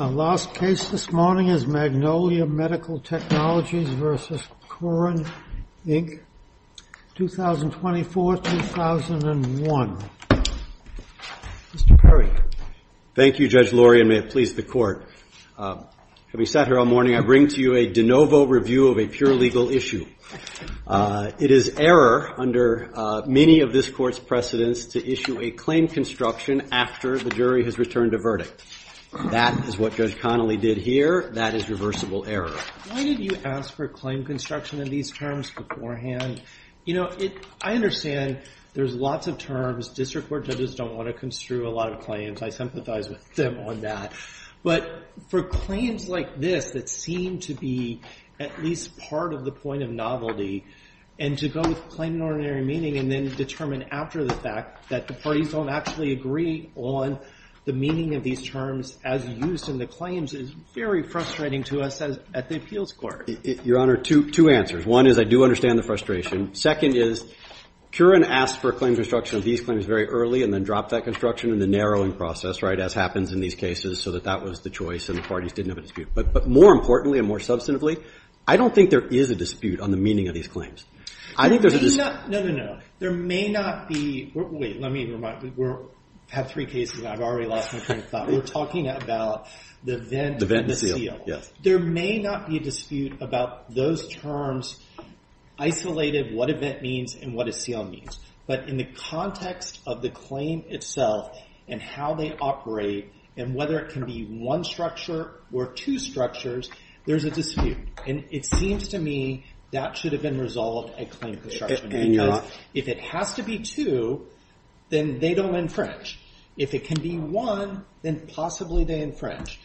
The last case this morning is Magnolia Medical Technologies v. Kurin, Inc., 2024-2001. Mr. Perry. Thank you, Judge Laurie, and may it please the Court. Having sat here all morning, I bring to you a de novo review of a pure legal issue. It is error under many of this Court's precedents to issue a claim construction after the jury has returned a verdict. That is what Judge Connolly did here. That is reversible error. Why did you ask for claim construction of these terms beforehand? You know, I understand there's lots of terms. District Court judges don't want to construe a lot of claims. I sympathize with them on that. But for claims like this that seem to be at least part of the point of novelty and to go with plain and ordinary meaning and then determine after the fact that the parties don't actually agree on the meaning of these terms as used in the claims is very frustrating to us at the appeals court. Your Honor, two answers. One is I do understand the frustration. Second is, Kurin asked for a claim construction of these claims very early and then dropped that construction in the narrowing process, right, as happens in these cases, so that that was the choice and the parties didn't have a dispute. But more importantly and more substantively, I don't think there is a dispute on the meaning of these claims. I think there's a dispute. No, no, no. There may not be, wait, let me remind you, we have three cases and I've already lost my train of thought. We're talking about the vent and the seal. There may not be a dispute about those terms isolated, what a vent means and what a seal means. But in the context of the claim itself and how they operate and whether it can be one structure or two structures, there's a dispute. And it seems to me that should have been resolved at claim construction. If it has to be two, then they don't infringe. If it can be one, then possibly they infringe.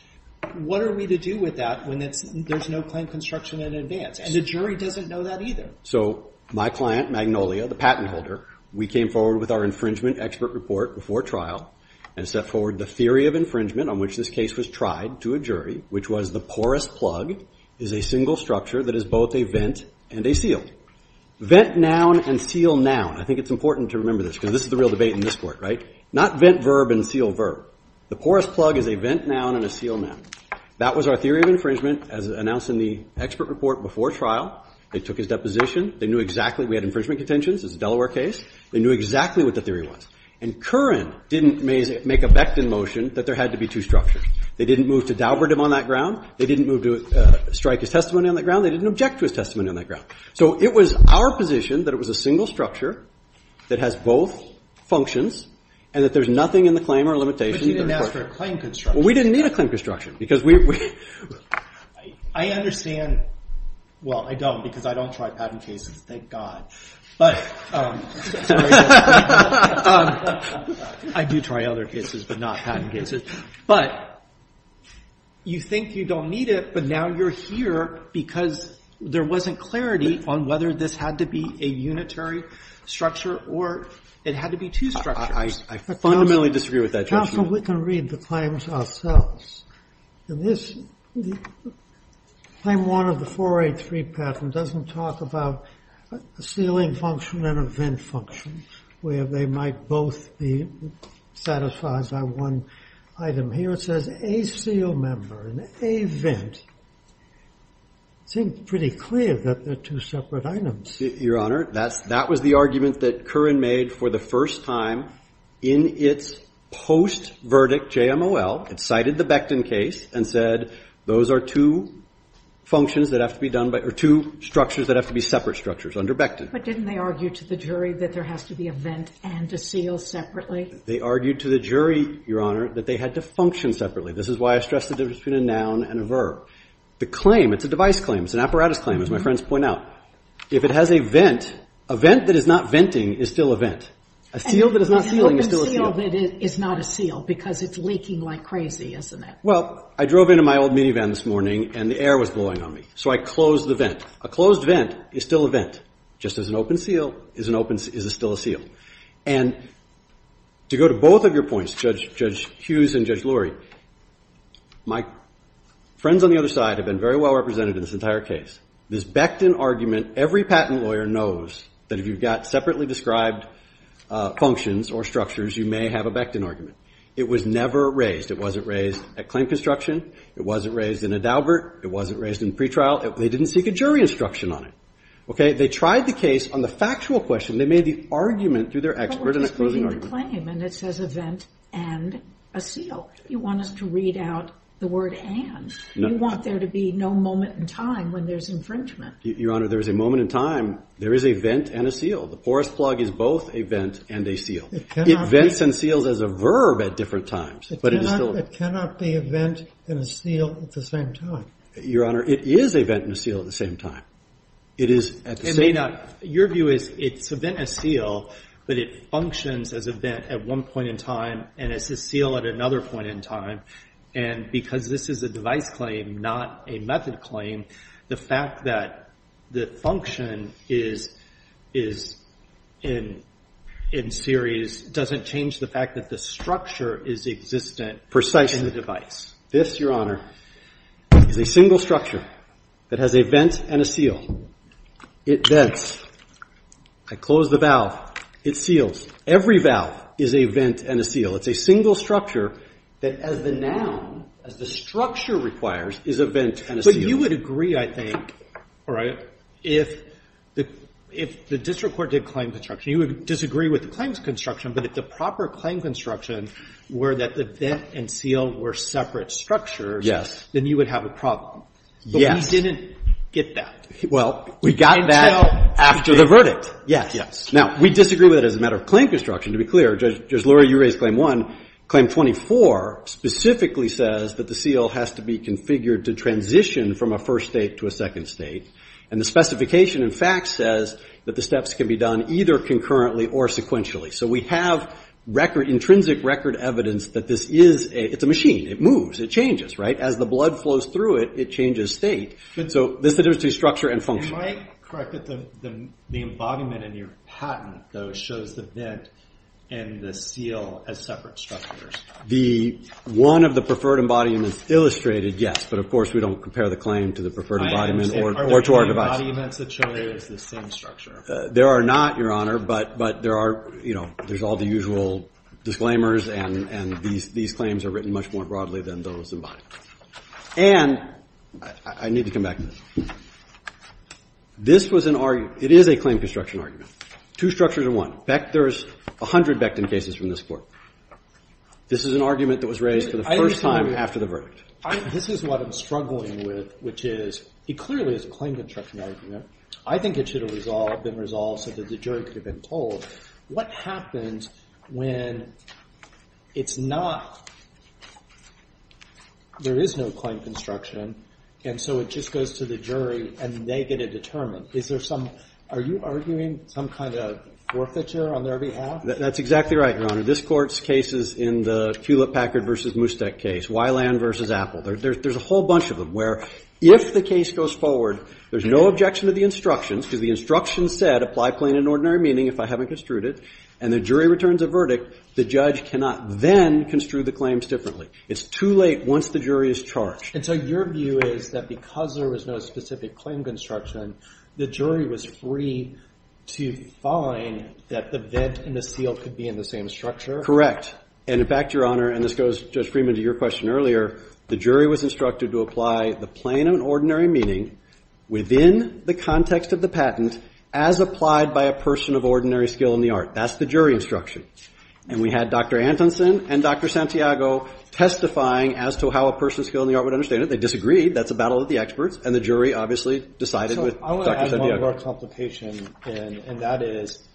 What are we to do with that when there's no claim construction in advance? And the jury doesn't know that either. So my client, Magnolia, the patent holder, we came forward with our infringement expert report before trial and set forward the theory of infringement on which this case was tried to a jury, which was the porous plug is a single structure that is both a vent and a seal. Vent noun and seal noun, I think it's important to remember this because this is the real debate in this court, right? Not vent verb and seal verb. The porous plug is a vent noun and a seal noun. That was our theory of infringement as announced in the expert report before trial. They took his deposition. They knew exactly we had infringement contentions, it's a Delaware case. They knew exactly what the theory was. And Curran didn't make a beckton motion that there had to be two structures. They didn't move to Dalbert him on that ground. They didn't move to strike his testimony on that ground. They didn't object to his testimony on that ground. It was our position that it was a single structure that has both functions and that there's nothing in the claim or limitation. But you didn't ask for a claim construction. We didn't need a claim construction. I understand. Well, I don't because I don't try patent cases, thank God. I do try other cases, but not patent cases. But you think you don't need it, but now you're here because there wasn't clarity on whether this had to be a unitary structure or it had to be two structures. I fundamentally disagree with that judgment. Counsel, we can read the claims ourselves. In this, claim one of the 483 patent doesn't talk about a sealing function and a vent function where they might both be satisfied by one item. Here it says a seal member and a vent. It seems pretty clear that they're two separate items. Your Honor, that was the argument that Curran made for the first time in its post-verdict JMOL. It cited the Becton case and said those are two functions that have to be done by, or two structures that have to be separate structures under Becton. But didn't they argue to the jury that there has to be a vent and a seal separately? They argued to the jury, Your Honor, that they had to function separately. This is why I stress the difference between a noun and a verb. The claim, it's a device claim, it's an apparatus claim, as my friends point out. If it has a vent, a vent that is not venting is still a vent. A seal that is not sealing is still a seal. An open seal that is not a seal because it's leaking like crazy, isn't it? Well, I drove into my old minivan this morning and the air was blowing on me, so I closed the vent. A closed vent is still a vent, just as an open seal is still a seal. And to go to both of your points, Judge Hughes and Judge Lurie, my friends on the other side have been very well represented in this entire case. This Becton argument, every patent lawyer knows that if you've got separately described functions or structures, you may have a Becton argument. It was never raised. It wasn't raised at claim construction. It wasn't raised in a Daubert. It wasn't raised in pretrial. They didn't seek a jury instruction on it. Okay, they tried the case on the factual question. They made the argument through their expert in a closing argument. But we're disputing the claim and it says a vent and a seal. You want us to read out the word and. You want there to be no moment in time when there's infringement. Your Honor, there is a moment in time. There is a vent and a seal. The porous plug is both a vent and a seal. It vents and seals as a verb at different times, but it is still a vent. It cannot be a vent and a seal at the same time. Your Honor, it is a vent and a seal at the same time. It is at the same time. Your view is it's a vent and a seal, but it functions as a vent at one point in time and as a seal at another point in time. And because this is a device claim, not a method claim, the fact that the function is in series doesn't change the fact that the structure is existent in the device. This, Your Honor, is a single structure that has a vent and a seal. It vents. I close the valve. It seals. Every valve is a vent and a seal. It's a single structure that as the noun, as the structure requires, is a vent and a seal. But you would agree, I think, all right, if the district court did claim construction, you would disagree with the claims construction, but if the proper claim construction were that the vent and seal were separate structures, then you would have a problem. But we didn't get that. Well, we got that after the verdict. Yes. Now, we disagree with it as a matter of claim construction. To be clear, Judge Lurie, you raised Claim 1. Claim 24 specifically says that the seal has to be configured to transition from a first state to a second state. And the specification, in fact, says that the steps can be done either concurrently or sequentially. So we have intrinsic record evidence that this is a machine. It moves. It changes, right? As the blood flows through it, it changes state. So this is the difference between structure and function. Am I correct that the embodiment in your patent, though, shows the vent and the seal as separate structures? One of the preferred embodiments illustrated, yes. But of course, we don't compare the claim to the preferred embodiment or to our device. Are there any embodiments that show it as the same structure? There are not, Your Honor. But there's all the usual disclaimers. And these claims are written much more broadly than those embodied. And I need to come back to this. This was an argument. It is a claim construction argument. Two structures in one. There's 100 Becton cases from this court. This is an argument that was raised for the first time after the verdict. This is what I'm struggling with, which is it clearly is a claim construction argument. I think it should have been resolved so that the jury could have been told. What happens when there is no claim construction, and so it just goes to the jury, and they get it determined? Are you arguing some kind of forfeiture on their behalf? That's exactly right, Your Honor. This court's cases in the Hewlett-Packard versus Mustek case, Weiland versus Apple, there's a whole bunch of them where if the case goes forward, there's no objection to the instructions, because the instructions said, apply plain and ordinary meaning if I haven't construed it, and the jury returns a verdict, the judge cannot then construe the claims differently. It's too late once the jury is charged. And so your view is that because there was no specific claim construction, the jury was free to find that the vent and the seal could be in the same structure? Correct. And in fact, Your Honor, and this goes, Judge Freeman, to your question earlier, the jury was instructed to apply the plain and ordinary meaning within the context of the patent, as applied by a person of ordinary skill in the art. That's the jury instruction. And we had Dr. Antonsen and Dr. Santiago testifying as to how a person of skill in the art would understand it. They disagreed. That's a battle of the experts, and the jury, obviously, decided with Dr. Santiago. I want to add one more complication, and that is,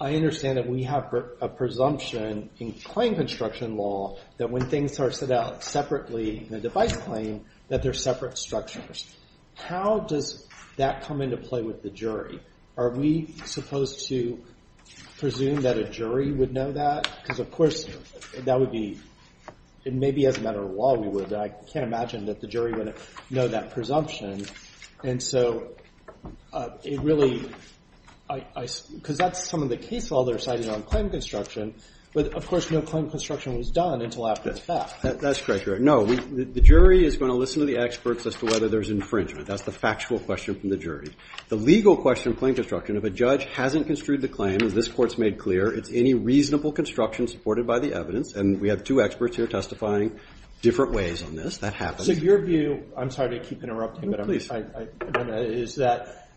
I understand that we have a presumption in claim construction law that when things are set out separately in a device claim, that they're separate structures. How does that come into play with the jury? Are we supposed to presume that a jury would know that? Because of course, that would be, maybe as a matter of law, we would. But I can't imagine that the jury would know that presumption. And so it really, because that's some of the case law they're citing on claim construction. But of course, no claim construction was done. That's correct, Your Honor. No, the jury is going to listen to the experts as to whether there's infringement. That's the factual question from the jury. The legal question in claim construction, if a judge hasn't construed the claim, as this court's made clear, it's any reasonable construction supported by the evidence. And we have two experts here testifying different ways on this. That happens. So your view, I'm sorry to keep interrupting, but I'm going to, is that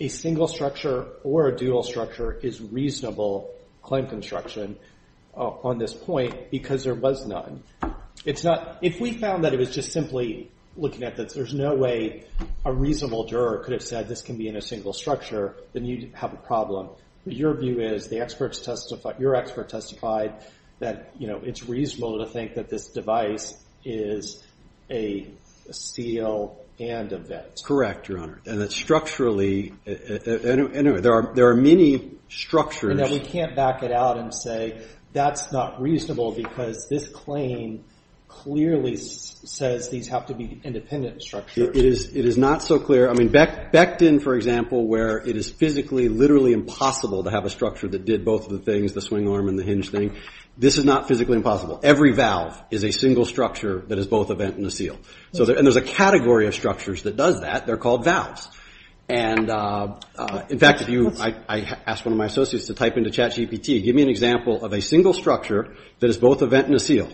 a single structure or a dual structure is reasonable claim construction on this point because there was none? If we found that it was just simply looking at this, there's no way a reasonable juror could have said this can be in a single structure, then you'd have a problem. But your view is, the experts testify, your expert testified, that it's reasonable to think that this device is a seal and a vent. Correct, Your Honor. And that structurally, anyway, there are many structures. And that we can't back it out and say, that's not reasonable because this claim clearly says these have to be independent structures. It is not so clear. I mean, Becton, for example, where it is physically, literally impossible to have a structure that did both of the things, the swing arm and the hinge thing, this is not physically impossible. Every valve is a single structure that is both a vent and a seal. And there's a category of structures that does that. They're called valves. And in fact, I asked one of my associates to type into chat GPT, give me an example of a single structure that is both a vent and a seal.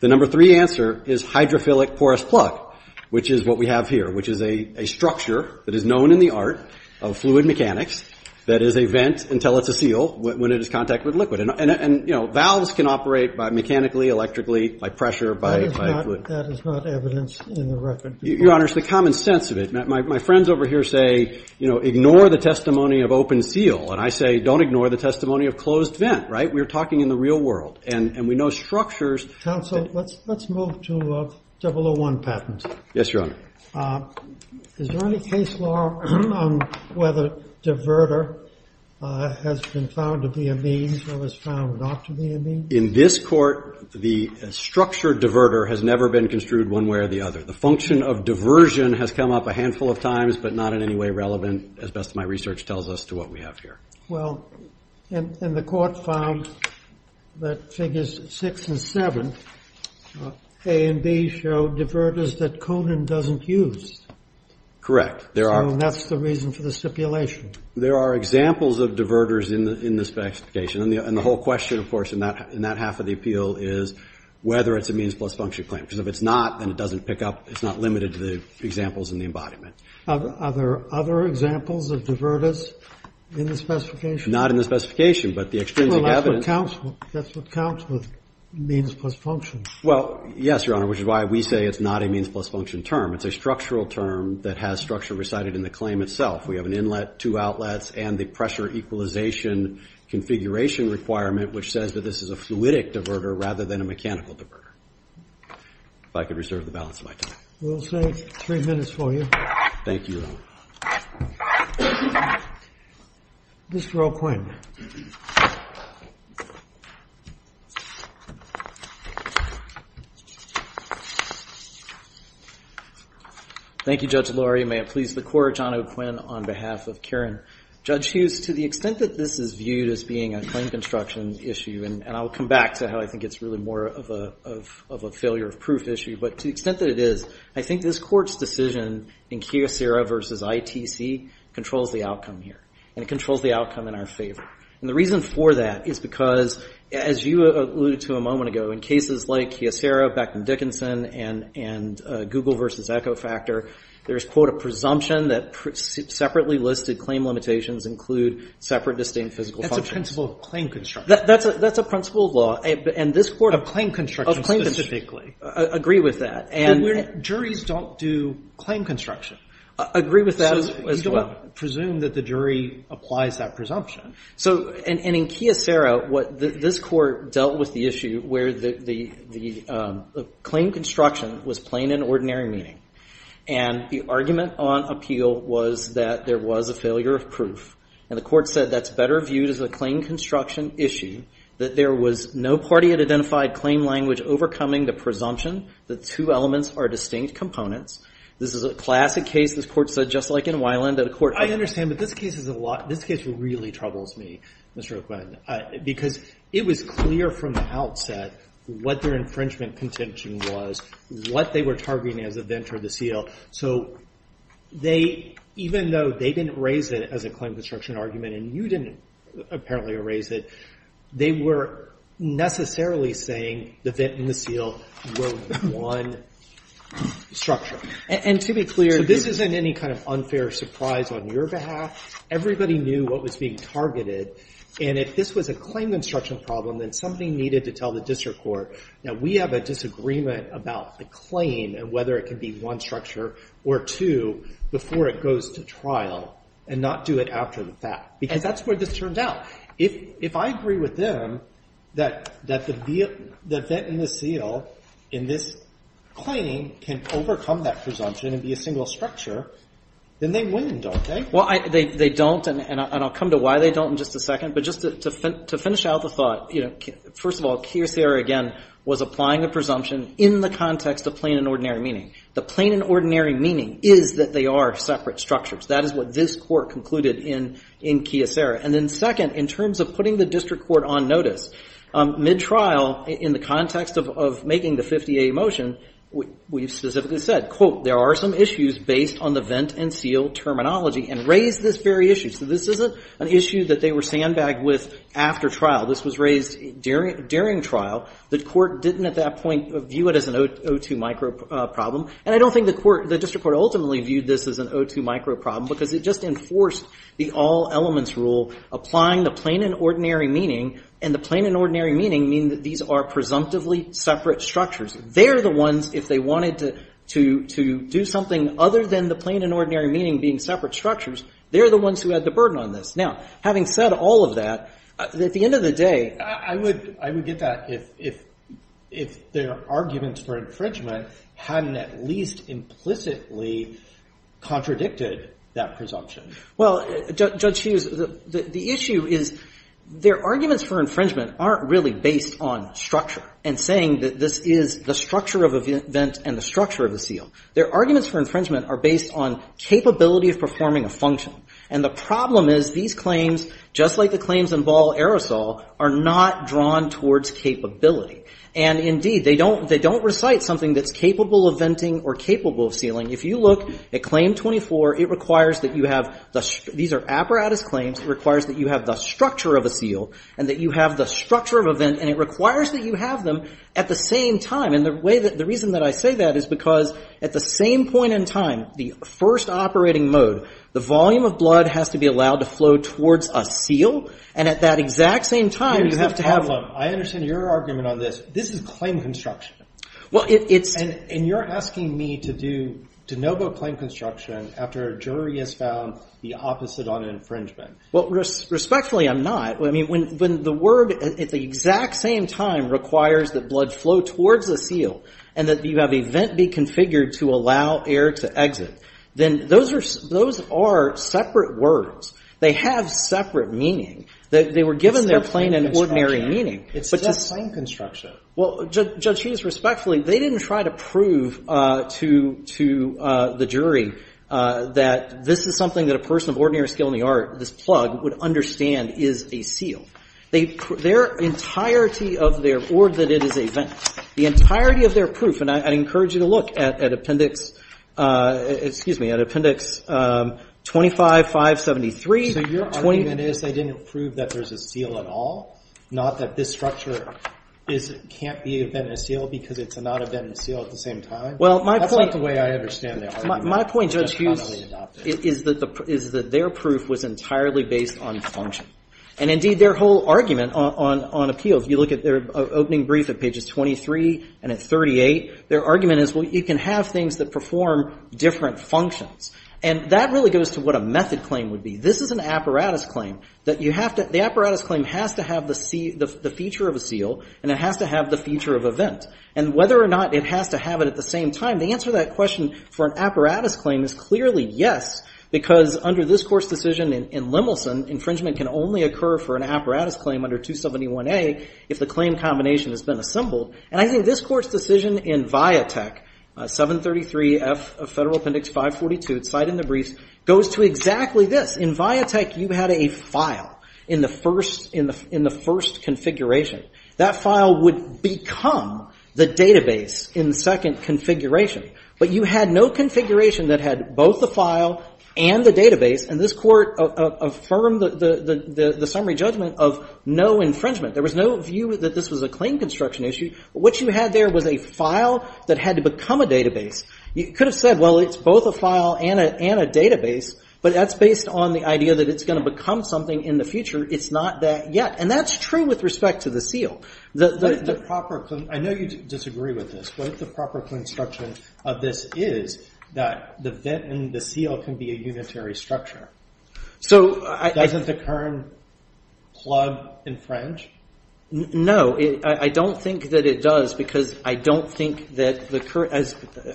The number three answer is hydrophilic porous plug, which is what we have here, which is a structure that is known in the art of fluid mechanics that is a vent until it's a seal when it is in contact with liquid. And valves can operate mechanically, electrically, by pressure, by fluid. That is not evidence in the record. Your Honor, it's the common sense of it. My friends over here say, ignore the testimony of open seal. And I say, don't ignore the testimony of closed vent, right? We're talking in the real world. And we know structures. Counsel, let's move to a double-oh-one patent. Yes, Your Honor. Is there any case law on whether diverter has been found to be a means or was found not to be a means? In this court, the structured diverter has never been construed one way or the other. The function of diversion has come up a handful of times, but not in any way relevant, as best my research tells us, to what we have here. Well, and the court found that figures six and seven, A and B, show diverters that Conan doesn't use. Correct. There are. That's the reason for the stipulation. There are examples of diverters in this specification. And the whole question, of course, in that half of the appeal is whether it's a means plus function claim. Because if it's not, then it doesn't pick up. It's not limited to the examples in the embodiment. Are there other examples of diverters in the specification? Not in the specification, but the extrinsic evidence. Well, that's what counts with means plus function. Well, yes, Your Honor, which is why we say it's not a means plus function term. It's a structural term that has structure recited in the claim itself. We have an inlet, two outlets, and the pressure equalization configuration requirement, which says that this is a fluidic diverter rather than a mechanical diverter. If I could reserve the balance of my time. We'll save three minutes for you. Thank you, Your Honor. Mr. O'Quinn. Thank you, Judge Lurie. May it please the Court, John O'Quinn on behalf of Karen. Judge Hughes, to the extent that this is viewed as being a claim construction issue, and I'll come back to how I think it's really more of a failure of proof issue, but to the extent that it is, I think this Court's decision in Kyocera versus ITC controls the outcome here, and it controls the outcome in our favor. And the reason for that is because, as you alluded to a moment ago, in cases like Kyocera, Beckman Dickinson, and Google versus Echo Factor, there's, quote, a presumption that separately listed claim limitations include separate distinct physical functions. That's a principle of claim construction. That's a principle of law. And this Court of claim construction specifically agree with that. And juries don't do claim construction. Agree with that as well. Presume that the jury applies that presumption. So in Kyocera, this Court dealt with the issue where the claim construction was plain and ordinary meaning. And the argument on appeal was that there was a failure of proof. And the Court said that's better viewed as a claim construction issue, that there was no party that identified claim language overcoming the presumption that two elements are distinct components. This is a classic case, this Court said, just like in Weiland, that a court I understand, but this case is a lot, this case really troubles me, Mr. O'Quinn, because it was clear from the outset what their infringement contention was, what they were targeting as a venture of the seal. So they, even though they didn't raise it as a claim construction argument, and you didn't apparently raise it, they were necessarily saying the vent and the seal were one structure. And to be clear, this isn't any kind of unfair surprise on your behalf. Everybody knew what was being targeted. And if this was a claim construction problem, then something needed to tell the district court that we have a disagreement about the claim and whether it can be one structure or two before it goes to trial and not do it after the fact. Because that's where this turned out. If I agree with them that the vent and the seal in this claim can overcome that presumption and be a single structure, then they win, don't they? Well, they don't, and I'll come to why they don't in just a second. But just to finish out the thought, first of all, Keir Sayer, again, was applying the presumption in the context of plain and ordinary meaning. The plain and ordinary meaning is that they are separate structures. That is what this court concluded in Keir Sayer. And then second, in terms of putting the district court on notice, mid-trial, in the context of making the 50A motion, we specifically said, quote, there are some issues based on the vent and seal terminology, and raised this very issue. So this isn't an issue that they were sandbagged with after trial. This was raised during trial. The court didn't, at that point, view it as an O2 micro problem. And I don't think the district court ultimately viewed this as an O2 micro problem, because it just enforced the all-elements rule, applying the plain and ordinary meaning. And the plain and ordinary meaning mean that these are presumptively separate structures. They're the ones, if they wanted to do something other than the plain and ordinary meaning being separate structures, they're the ones who had the burden on this. Now, having said all of that, at the end of the day, I would get that if their arguments for infringement hadn't at least implicitly contradicted that presumption. Well, Judge Hughes, the issue is their arguments for infringement aren't really based on structure, and saying that this is the structure of a vent and the structure of a seal. Their arguments for infringement are based on capability of performing a function. And the problem is these claims, just like the claims in Ball-Aerosol, are not drawn towards capability. And indeed, they don't recite something that's capable of venting or capable of sealing. If you look at Claim 24, it requires that you have the, these are apparatus claims, it requires that you have the structure of a seal, and that you have the structure of a vent. And it requires that you have them at the same time. And the reason that I say that is because at the same point in time, the first operating mode, the volume of blood has to be allowed to flow towards a seal. And at that exact same time, you have to have them. I understand your argument on this. This is claim construction. Well, it's. And you're asking me to do de novo claim construction after a jury has found the opposite on infringement. Well, respectfully, I'm not. I mean, when the word at the exact same time requires that blood flow towards the seal, and that you have a vent be configured to allow air to exit, then those are separate words. They have separate meaning. They were given their plain and ordinary meaning. It's just claim construction. Well, Judge Chivas, respectfully, they didn't try to prove to the jury that this is something that a person of ordinary skill in the art, this plug, would understand is a seal. Their entirety of their, or that it is a vent, the entirety of their proof, and I encourage you to look at appendix, excuse me, at appendix 25, 573. So your argument is they didn't prove that there's a seal at all? Not that this structure can't be a vent and a seal because it's not a vent and a seal at the same time? Well, my point. That's not the way I understand the argument. My point, Judge Hughes, is that their proof was entirely based on function. And indeed, their whole argument on appeal, if you look at their opening brief at pages 23 and at 38, their argument is, well, you can have things that perform different functions. And that really goes to what a method claim would be. This is an apparatus claim that you have to, the apparatus claim has to have the feature of a seal, and it has to have the feature of a vent. And whether or not it has to have it at the same time, the answer to that question for an apparatus claim is clearly yes, because under this Court's decision in Lemelson, infringement can only occur for an apparatus claim under 271A if the claim combination has been assembled. And I think this Court's decision in Viatek, 733F of Federal Appendix 542, it's cited in the briefs, goes to exactly this. In Viatek, you had a file in the first configuration. That file would become the database in the second configuration. But you had no configuration that had both the file and the database, and this Court affirmed the summary judgment of no infringement. There was no view that this was a claim construction issue. What you had there was a file that had to become a database. You could have said, well, it's both a file and a database, but that's based on the idea that it's going to become something in the future. It's not that yet. And that's true with respect to the seal. The proper claim, I know you disagree with this, but the proper construction of this is that the vent and the seal can be a unitary structure. So, I... Doesn't the current plug infringe? No, I don't think that it does, because I don't think that the current...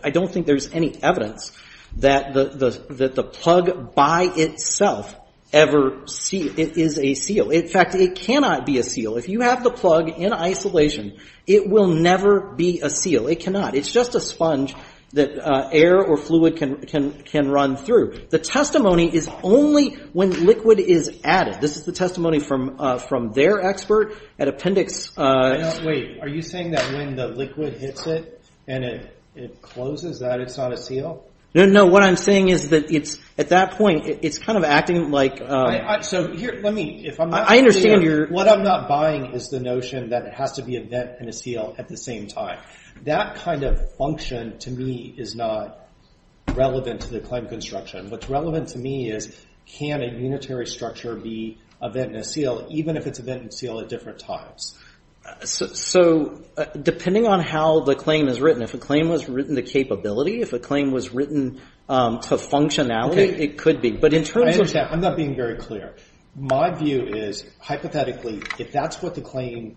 I don't think there's any evidence that the plug by itself ever is a seal. In fact, it cannot be a seal. If you have the plug in isolation, it will never be a seal. It cannot. It's just a sponge that air or fluid can run through. The testimony is only when liquid is added. This is the testimony from their expert at Appendix... Wait, are you saying that when the liquid hits it and it closes that it's not a seal? No, no. What I'm saying is that at that point, it's kind of acting like... So, here, let me, if I'm not... I understand your... What I'm not buying is the notion that it has to be a vent and a seal at the same time. That kind of function, to me, is not relevant to the claim construction. What's relevant to me is, can a unitary structure be a vent and a seal, even if it's a vent and seal at different times? So, depending on how the claim is written, if a claim was written to capability, if a claim was written to functionality, it could be. But in terms of... I'm not being very clear. My view is, hypothetically, if that's what the claim...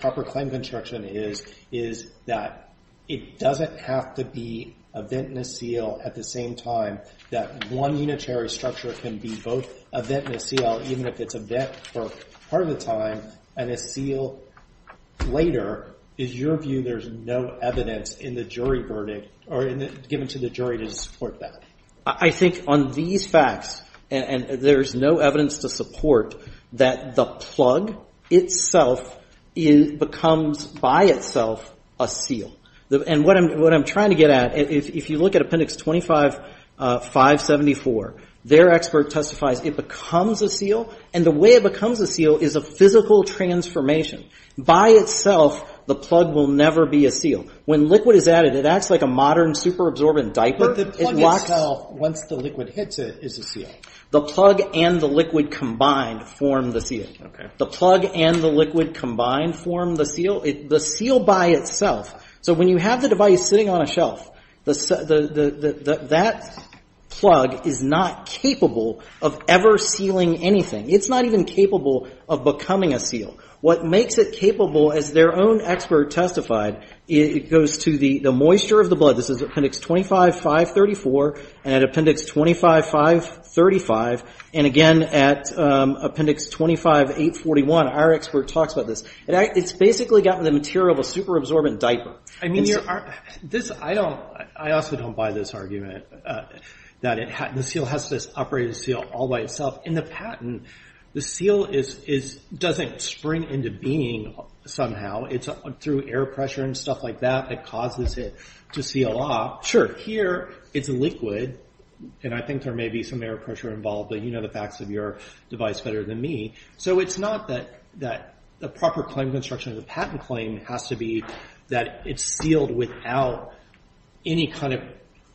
Proper claim construction is, is that it doesn't have to be a vent and a seal at the same time, that one unitary structure can be both a vent and a seal, even if it's a vent for part of the time and a seal later. Is your view there's no evidence in the jury verdict or given to the jury to support that? I think on these facts, and there's no evidence to support that the plug itself becomes by itself a seal. And what I'm trying to get at, if you look at Appendix 25-574, their expert testifies it becomes a seal, and the way it becomes a seal is a physical transformation. By itself, the plug will never be a seal. When liquid is added, it acts like a modern super-absorbent diaper. But the plug itself, once the liquid hits it, is a seal. The plug and the liquid combined form the seal. The plug and the liquid combined form the seal. The seal by itself... So when you have the device sitting on a shelf, that plug is not capable of ever sealing anything. It's not even capable of becoming a seal. What makes it capable, as their own expert testified, it goes to the moisture of the blood. This is Appendix 25-534, and Appendix 25-535, and again at Appendix 25-841, our expert talks about this. It's basically gotten the material of a super-absorbent diaper. I mean, I also don't buy this argument that the seal has to operate the seal all by itself. In the patent, the seal doesn't spring into being somehow. It's through air pressure and stuff like that that causes it to seal up. Sure. Here, it's a liquid, and I think there may be some air pressure involved, but you know the facts of your device better than me. So it's not that the proper claim construction of the patent claim has to be that it's sealed without any kind of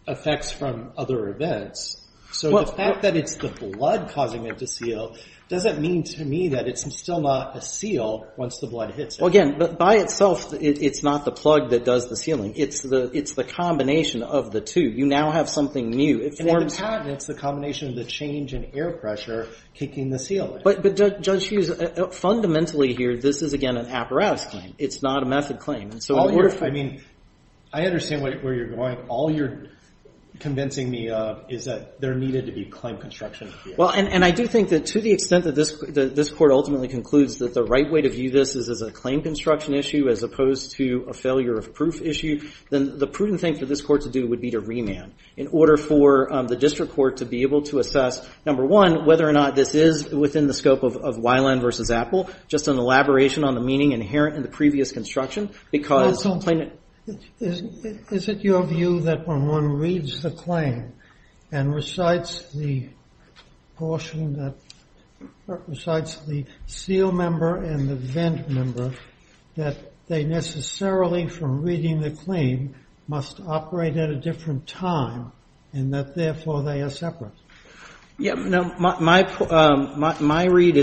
effects from other events. So the fact that it's the blood causing it to seal doesn't mean to me that it's still not a seal once the blood hits it. Well, again, by itself, it's not the plug that does the sealing. It's the combination of the two. You now have something new. In the patent, it's the combination of the change in air pressure kicking the seal in. But Judge Hughes, fundamentally here, this is again an apparatus claim. It's not a method claim. I mean, I understand where you're going. All you're convincing me of is that there needed to be claim construction. Well, and I do think that to the extent that this court ultimately concludes that the right way to view this is as a claim construction issue as opposed to a failure of proof issue, then the prudent thing for this court to do would be to remand in order for the district court to be able to assess, number one, whether or not this is within the scope of Weiland v. Apple, just an elaboration on the meaning inherent in the previous construction. Counsel, is it your view that when one reads the claim and recites the portion that recites the seal member and the vent member, that they necessarily, from reading the claim, must operate at a different time, and that therefore they are separate? Yeah, my read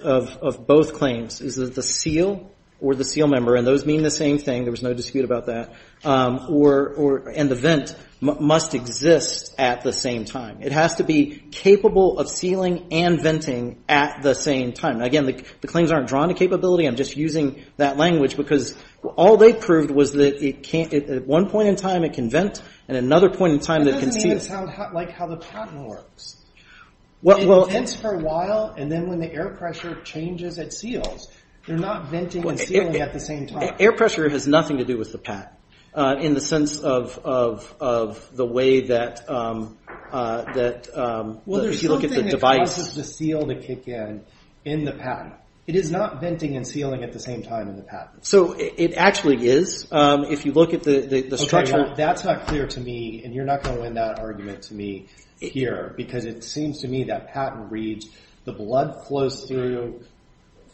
of both claims is that the seal or the seal member, and those mean the same thing, there was no dispute about that, and the vent must exist at the same time. It has to be capable of sealing and venting at the same time. Again, the claims aren't drawn to capability. I'm just using that language because all they proved was that at one point in time it can vent, and at another point in time it can seal. That doesn't sound like how the patent works. It vents for a while, and then when the air pressure changes, it seals. They're not venting and sealing at the same time. Air pressure has nothing to do with the patent, in the sense of the way that if you look at the device. Well, there's something that causes the seal to kick in, in the patent. It is not venting and sealing at the same time in the patent. It actually is. If you look at the structure. That's not clear to me, and you're not going to win that argument to me here, because it seems to me that patent reads the blood flows through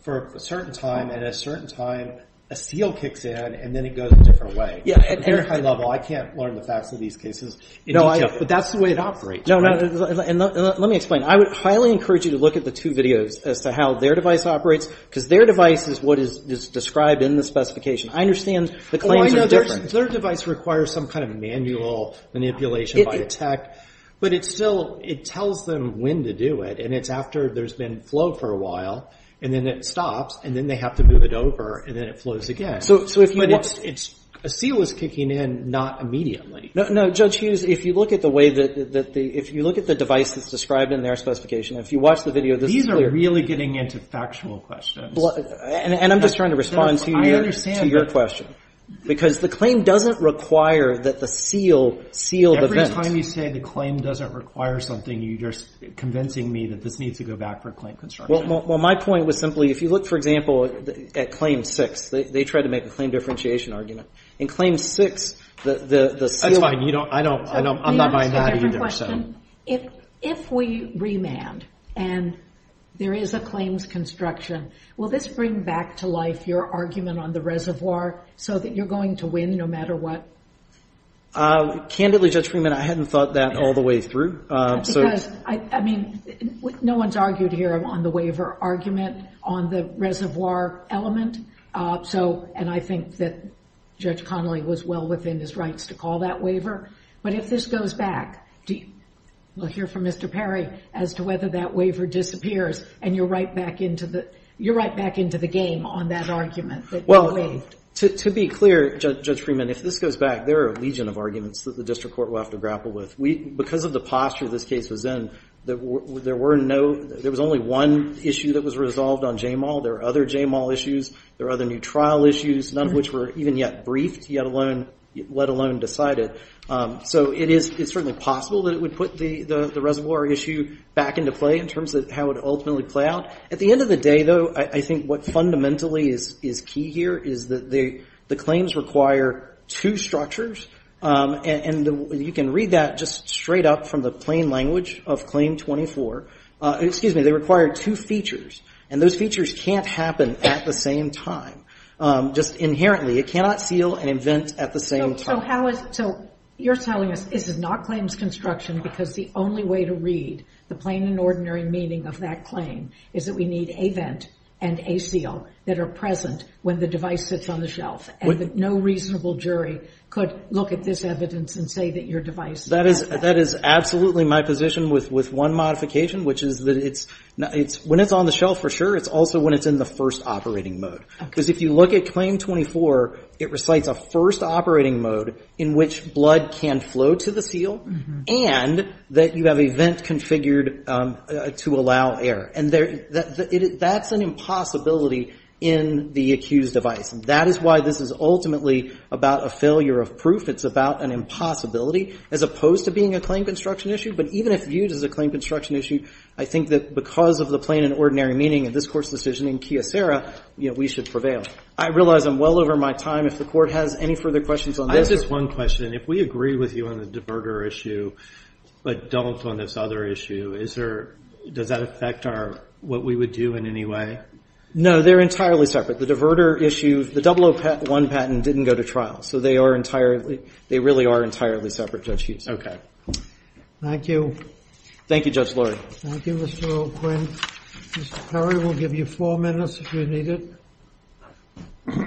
for a certain time, and at a certain time a seal kicks in, and then it goes a different way. At a very high level, I can't learn the facts of these cases in detail. That's the way it operates. Let me explain. I would highly encourage you to look at the two videos as to how their device operates, because their device is what is described in the specification. I understand the claims are different. Their device requires some kind of manual manipulation by the tech, but it still, it tells them when to do it, and it's after there's been flow for a while, and then it stops, and then they have to move it over, and then it flows again. But a seal is kicking in, not immediately. No, Judge Hughes, if you look at the way that the, if you look at the device that's described in their specification, if you watch the video, this is clear. These are really getting into factual questions. And I'm just trying to respond to your question. Because the claim doesn't require that the seal seal the vent. Every time you say the claim doesn't require something, you're convincing me that this needs to go back for a claim construction. Well, my point was simply, if you look, for example, at claim six, they tried to make a claim differentiation argument. In claim six, the seal. That's fine. I don't, I'm not buying that either. If we remand, and there is a claims construction, will this bring back to life your argument on the reservoir, so that you're going to win no matter what? Candidly, Judge Freeman, I hadn't thought that all the way through. Because, I mean, no one's argued here on the waiver argument on the reservoir element. So, and I think that Judge Connolly was well within his rights to call that waiver. But if this goes back, we'll hear from Mr. Perry as to whether that waiver disappears, and you're right back into the game on that argument. Well, to be clear, Judge Freeman, if this goes back, there are a legion of arguments that the district court will have to grapple with. Because of the posture this case was in, there were no, there was only one issue that was resolved on JMAL. There are other JMAL issues. There are other new trial issues, none of which were even yet briefed, let alone decided. So it is certainly possible that it would put the reservoir issue back into play in terms of how it would ultimately play out. At the end of the day, though, I think what fundamentally is key here is that the claims require two structures. And you can read that just straight up from the plain language of Claim 24. Excuse me, they require two features. And those features can't happen at the same time, just inherently. It cannot seal and invent at the same time. So you're telling us this is not claims construction because the only way to read the plain and ordinary meaning of that claim is that we need a vent and a seal that are present when the device sits on the shelf, and that no reasonable jury could look at this evidence and say that your device has that. That is absolutely my position with one modification, which is that it's, when it's on the shelf for sure, it's also when it's in the first operating mode. Because if you look at Claim 24, it recites a first operating mode in which blood can flow to the seal and that you have a vent configured to allow air. And that's an impossibility in the accused device. And that is why this is ultimately about a failure of proof. It's about an impossibility as opposed to being a claim construction issue. But even if viewed as a claim construction issue, I think that because of the plain and ordinary meaning of this Court's decision in Kyocera, we should prevail. I realize I'm well over my time. If the Court has any further questions on this. I have just one question. If we agree with you on the diverter issue, but don't on this other issue, does that affect what we would do in any way? No, they're entirely separate. The diverter issue, the 001 patent didn't go to trial. So they are entirely, they really are entirely separate, Judge Hughes. Okay. Thank you. Thank you, Judge Lurie. Thank you, Mr. O'Quinn. Mr. Perry, we'll give you four minutes if you need it.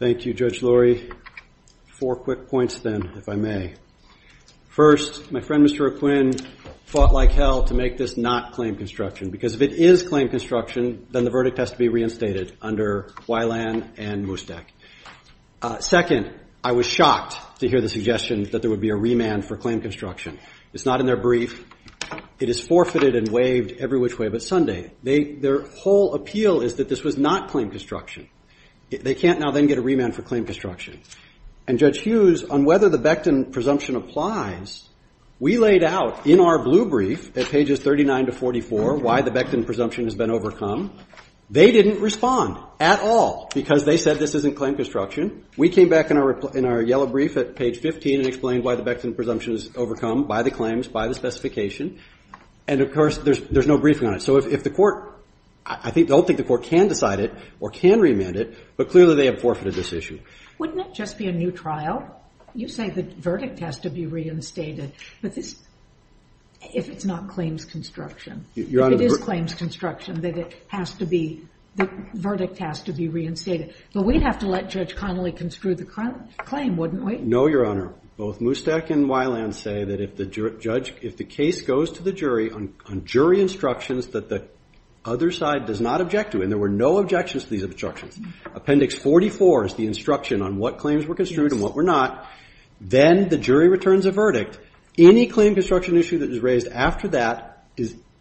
Thank you, Judge Lurie. Four quick points then, if I may. First, my friend, Mr. O'Quinn, fought like hell to make this not claim construction. Because if it is claim construction, then the verdict has to be reinstated under Weiland and Mustak. Second, I was shocked to hear the suggestion that there would be a remand for claim construction. It's not in their brief. It is forfeited and waived every which way but Sunday. Their whole appeal is that this was not claim construction. They can't now then get a remand for claim construction. And Judge Hughes, on whether the Becton presumption applies, we laid out in our blue brief at pages 39 to 44 why the Becton presumption has been overcome. They didn't respond at all because they said this isn't claim construction. We came back in our yellow brief at page 15 and explained why the Becton presumption is overcome by the claims, by the specification. And of course, there's no briefing on it. So if the court, I don't think the court can decide it or can remand it, but clearly they have forfeited this issue. Wouldn't it just be a new trial? You say the verdict has to be reinstated. But this, if it's not claims construction, if it is claims construction, then it has to be, the verdict has to be reinstated. But we'd have to let Judge Connolly construe the claim, wouldn't we? No, Your Honor. Both Mustak and Weiland say that if the judge, if the case goes to the jury on jury instructions that the other side does not object to, and there were no objections to these instructions, appendix 44 is the instruction on what claims were construed and what were not, then the jury returns a verdict. Any claim construction issue that is raised after that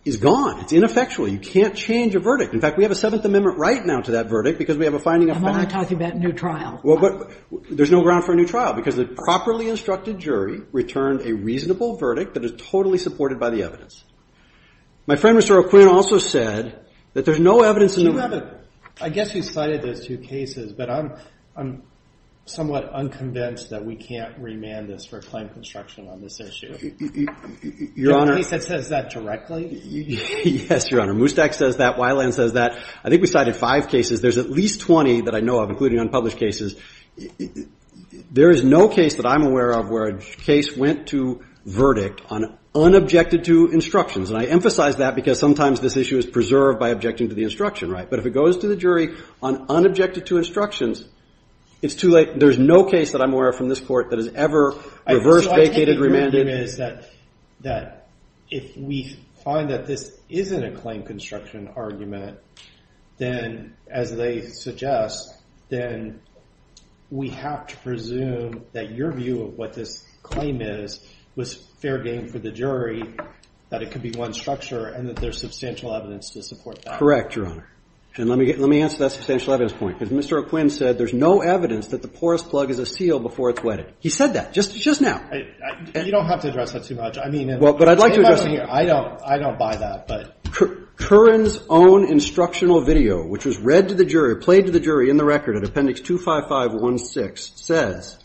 is gone. It's ineffectual. You can't change a verdict. In fact, we have a Seventh Amendment right now to that verdict because we have a finding of Am I talking about a new trial? There's no ground for a new trial because the properly instructed jury returned a reasonable verdict that is totally supported by the evidence. My friend, Mr. O'Quinn, also said that there's no evidence in the record. I guess you cited those two cases, but I'm somewhat unconvinced that we can't remand this for claim construction on this issue. Your Honor. At least it says that directly. Yes, Your Honor. Mustak says that. Weiland says that. I think we cited five cases. There's at least 20 that I know of, including unpublished cases. There is no case that I'm aware of where a case went to verdict on unobjected to instructions. And I emphasize that because sometimes this issue is preserved by objecting to the instruction, right? But if it goes to the jury on unobjected to instructions, it's too late. There's no case that I'm aware of from this court that has ever reversed, vacated, remanded. So I take it your argument is that if we find that this isn't a claim construction argument, then as they suggest, then we have to presume that your view of what this claim is was fair game for the jury, that it could be one structure, and that there's substantial evidence to support that. Correct, Your Honor. And let me answer that substantial evidence point. Because Mr. O'Quinn said there's no evidence that the porous plug is a seal before it's He said that just now. You don't have to address that too much. I mean, I don't buy that. Curran's own instructional video, which was read to the jury, played to the jury in the record at Appendix 25516, says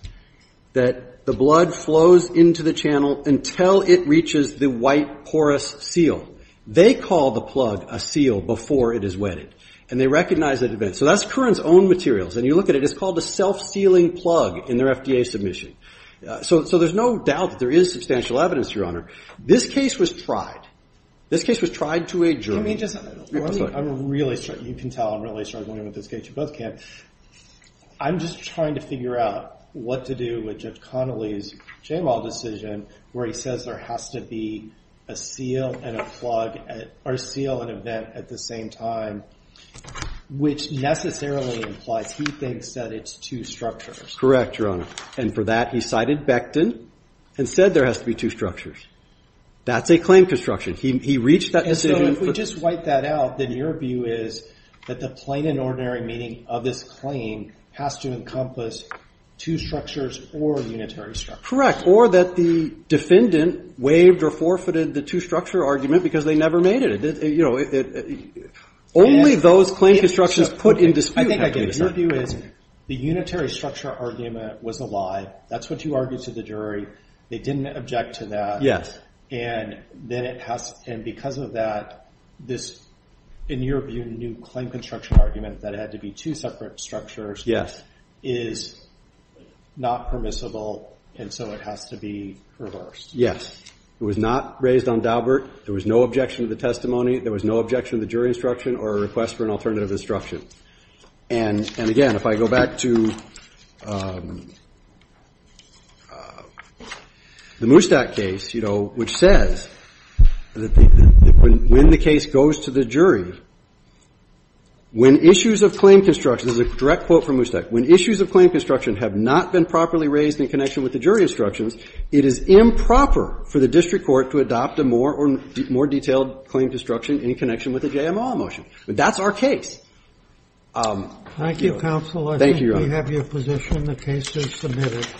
that the blood flows into the channel until it reaches the white porous seal. They call the plug a seal before it is wetted. And they recognize that event. So that's Curran's own materials. And you look at it, it's called a self-sealing plug in their FDA submission. So there's no doubt that there is substantial evidence, Your Honor. This case was tried. This case was tried to a jury. Let me just, let me, I'm really, you can tell I'm really struggling with this case. You both can. I'm just trying to figure out what to do with Judge Connolly's Jamal decision, where he says there has to be a seal and a plug, or seal and event at the same time, which necessarily implies he thinks that it's two structures. Correct, Your Honor. And for that, he cited Becton and said there has to be two structures. That's a claim construction. He reached that decision. So if we just wipe that out, then your view is that the plain and ordinary meaning of this claim has to encompass two structures or a unitary structure. Correct. Or that the defendant waived or forfeited the two-structure argument because they never made it. Only those claim constructions put in dispute have to be the same. Your view is the unitary structure argument was a lie. That's what you argued to the jury. They didn't object to that. And because of that, this, in your view, new claim construction argument that it had to be two separate structures is not permissible, and so it has to be reversed. It was not raised on Daubert. There was no objection to the testimony. There was no objection to the jury instruction or a request for an alternative instruction. And again, if I go back to the Moustak case, you know, which says that when the case goes to the jury, when issues of claim construction, this is a direct quote from Moustak, when issues of claim construction have not been properly raised in connection with the jury instructions, it is improper for the district court to adopt a more detailed claim construction in connection with a JMO motion. But that's our case. Thank you, counsel. Thank you, Your Honor. I think we have your position. The case is submitted.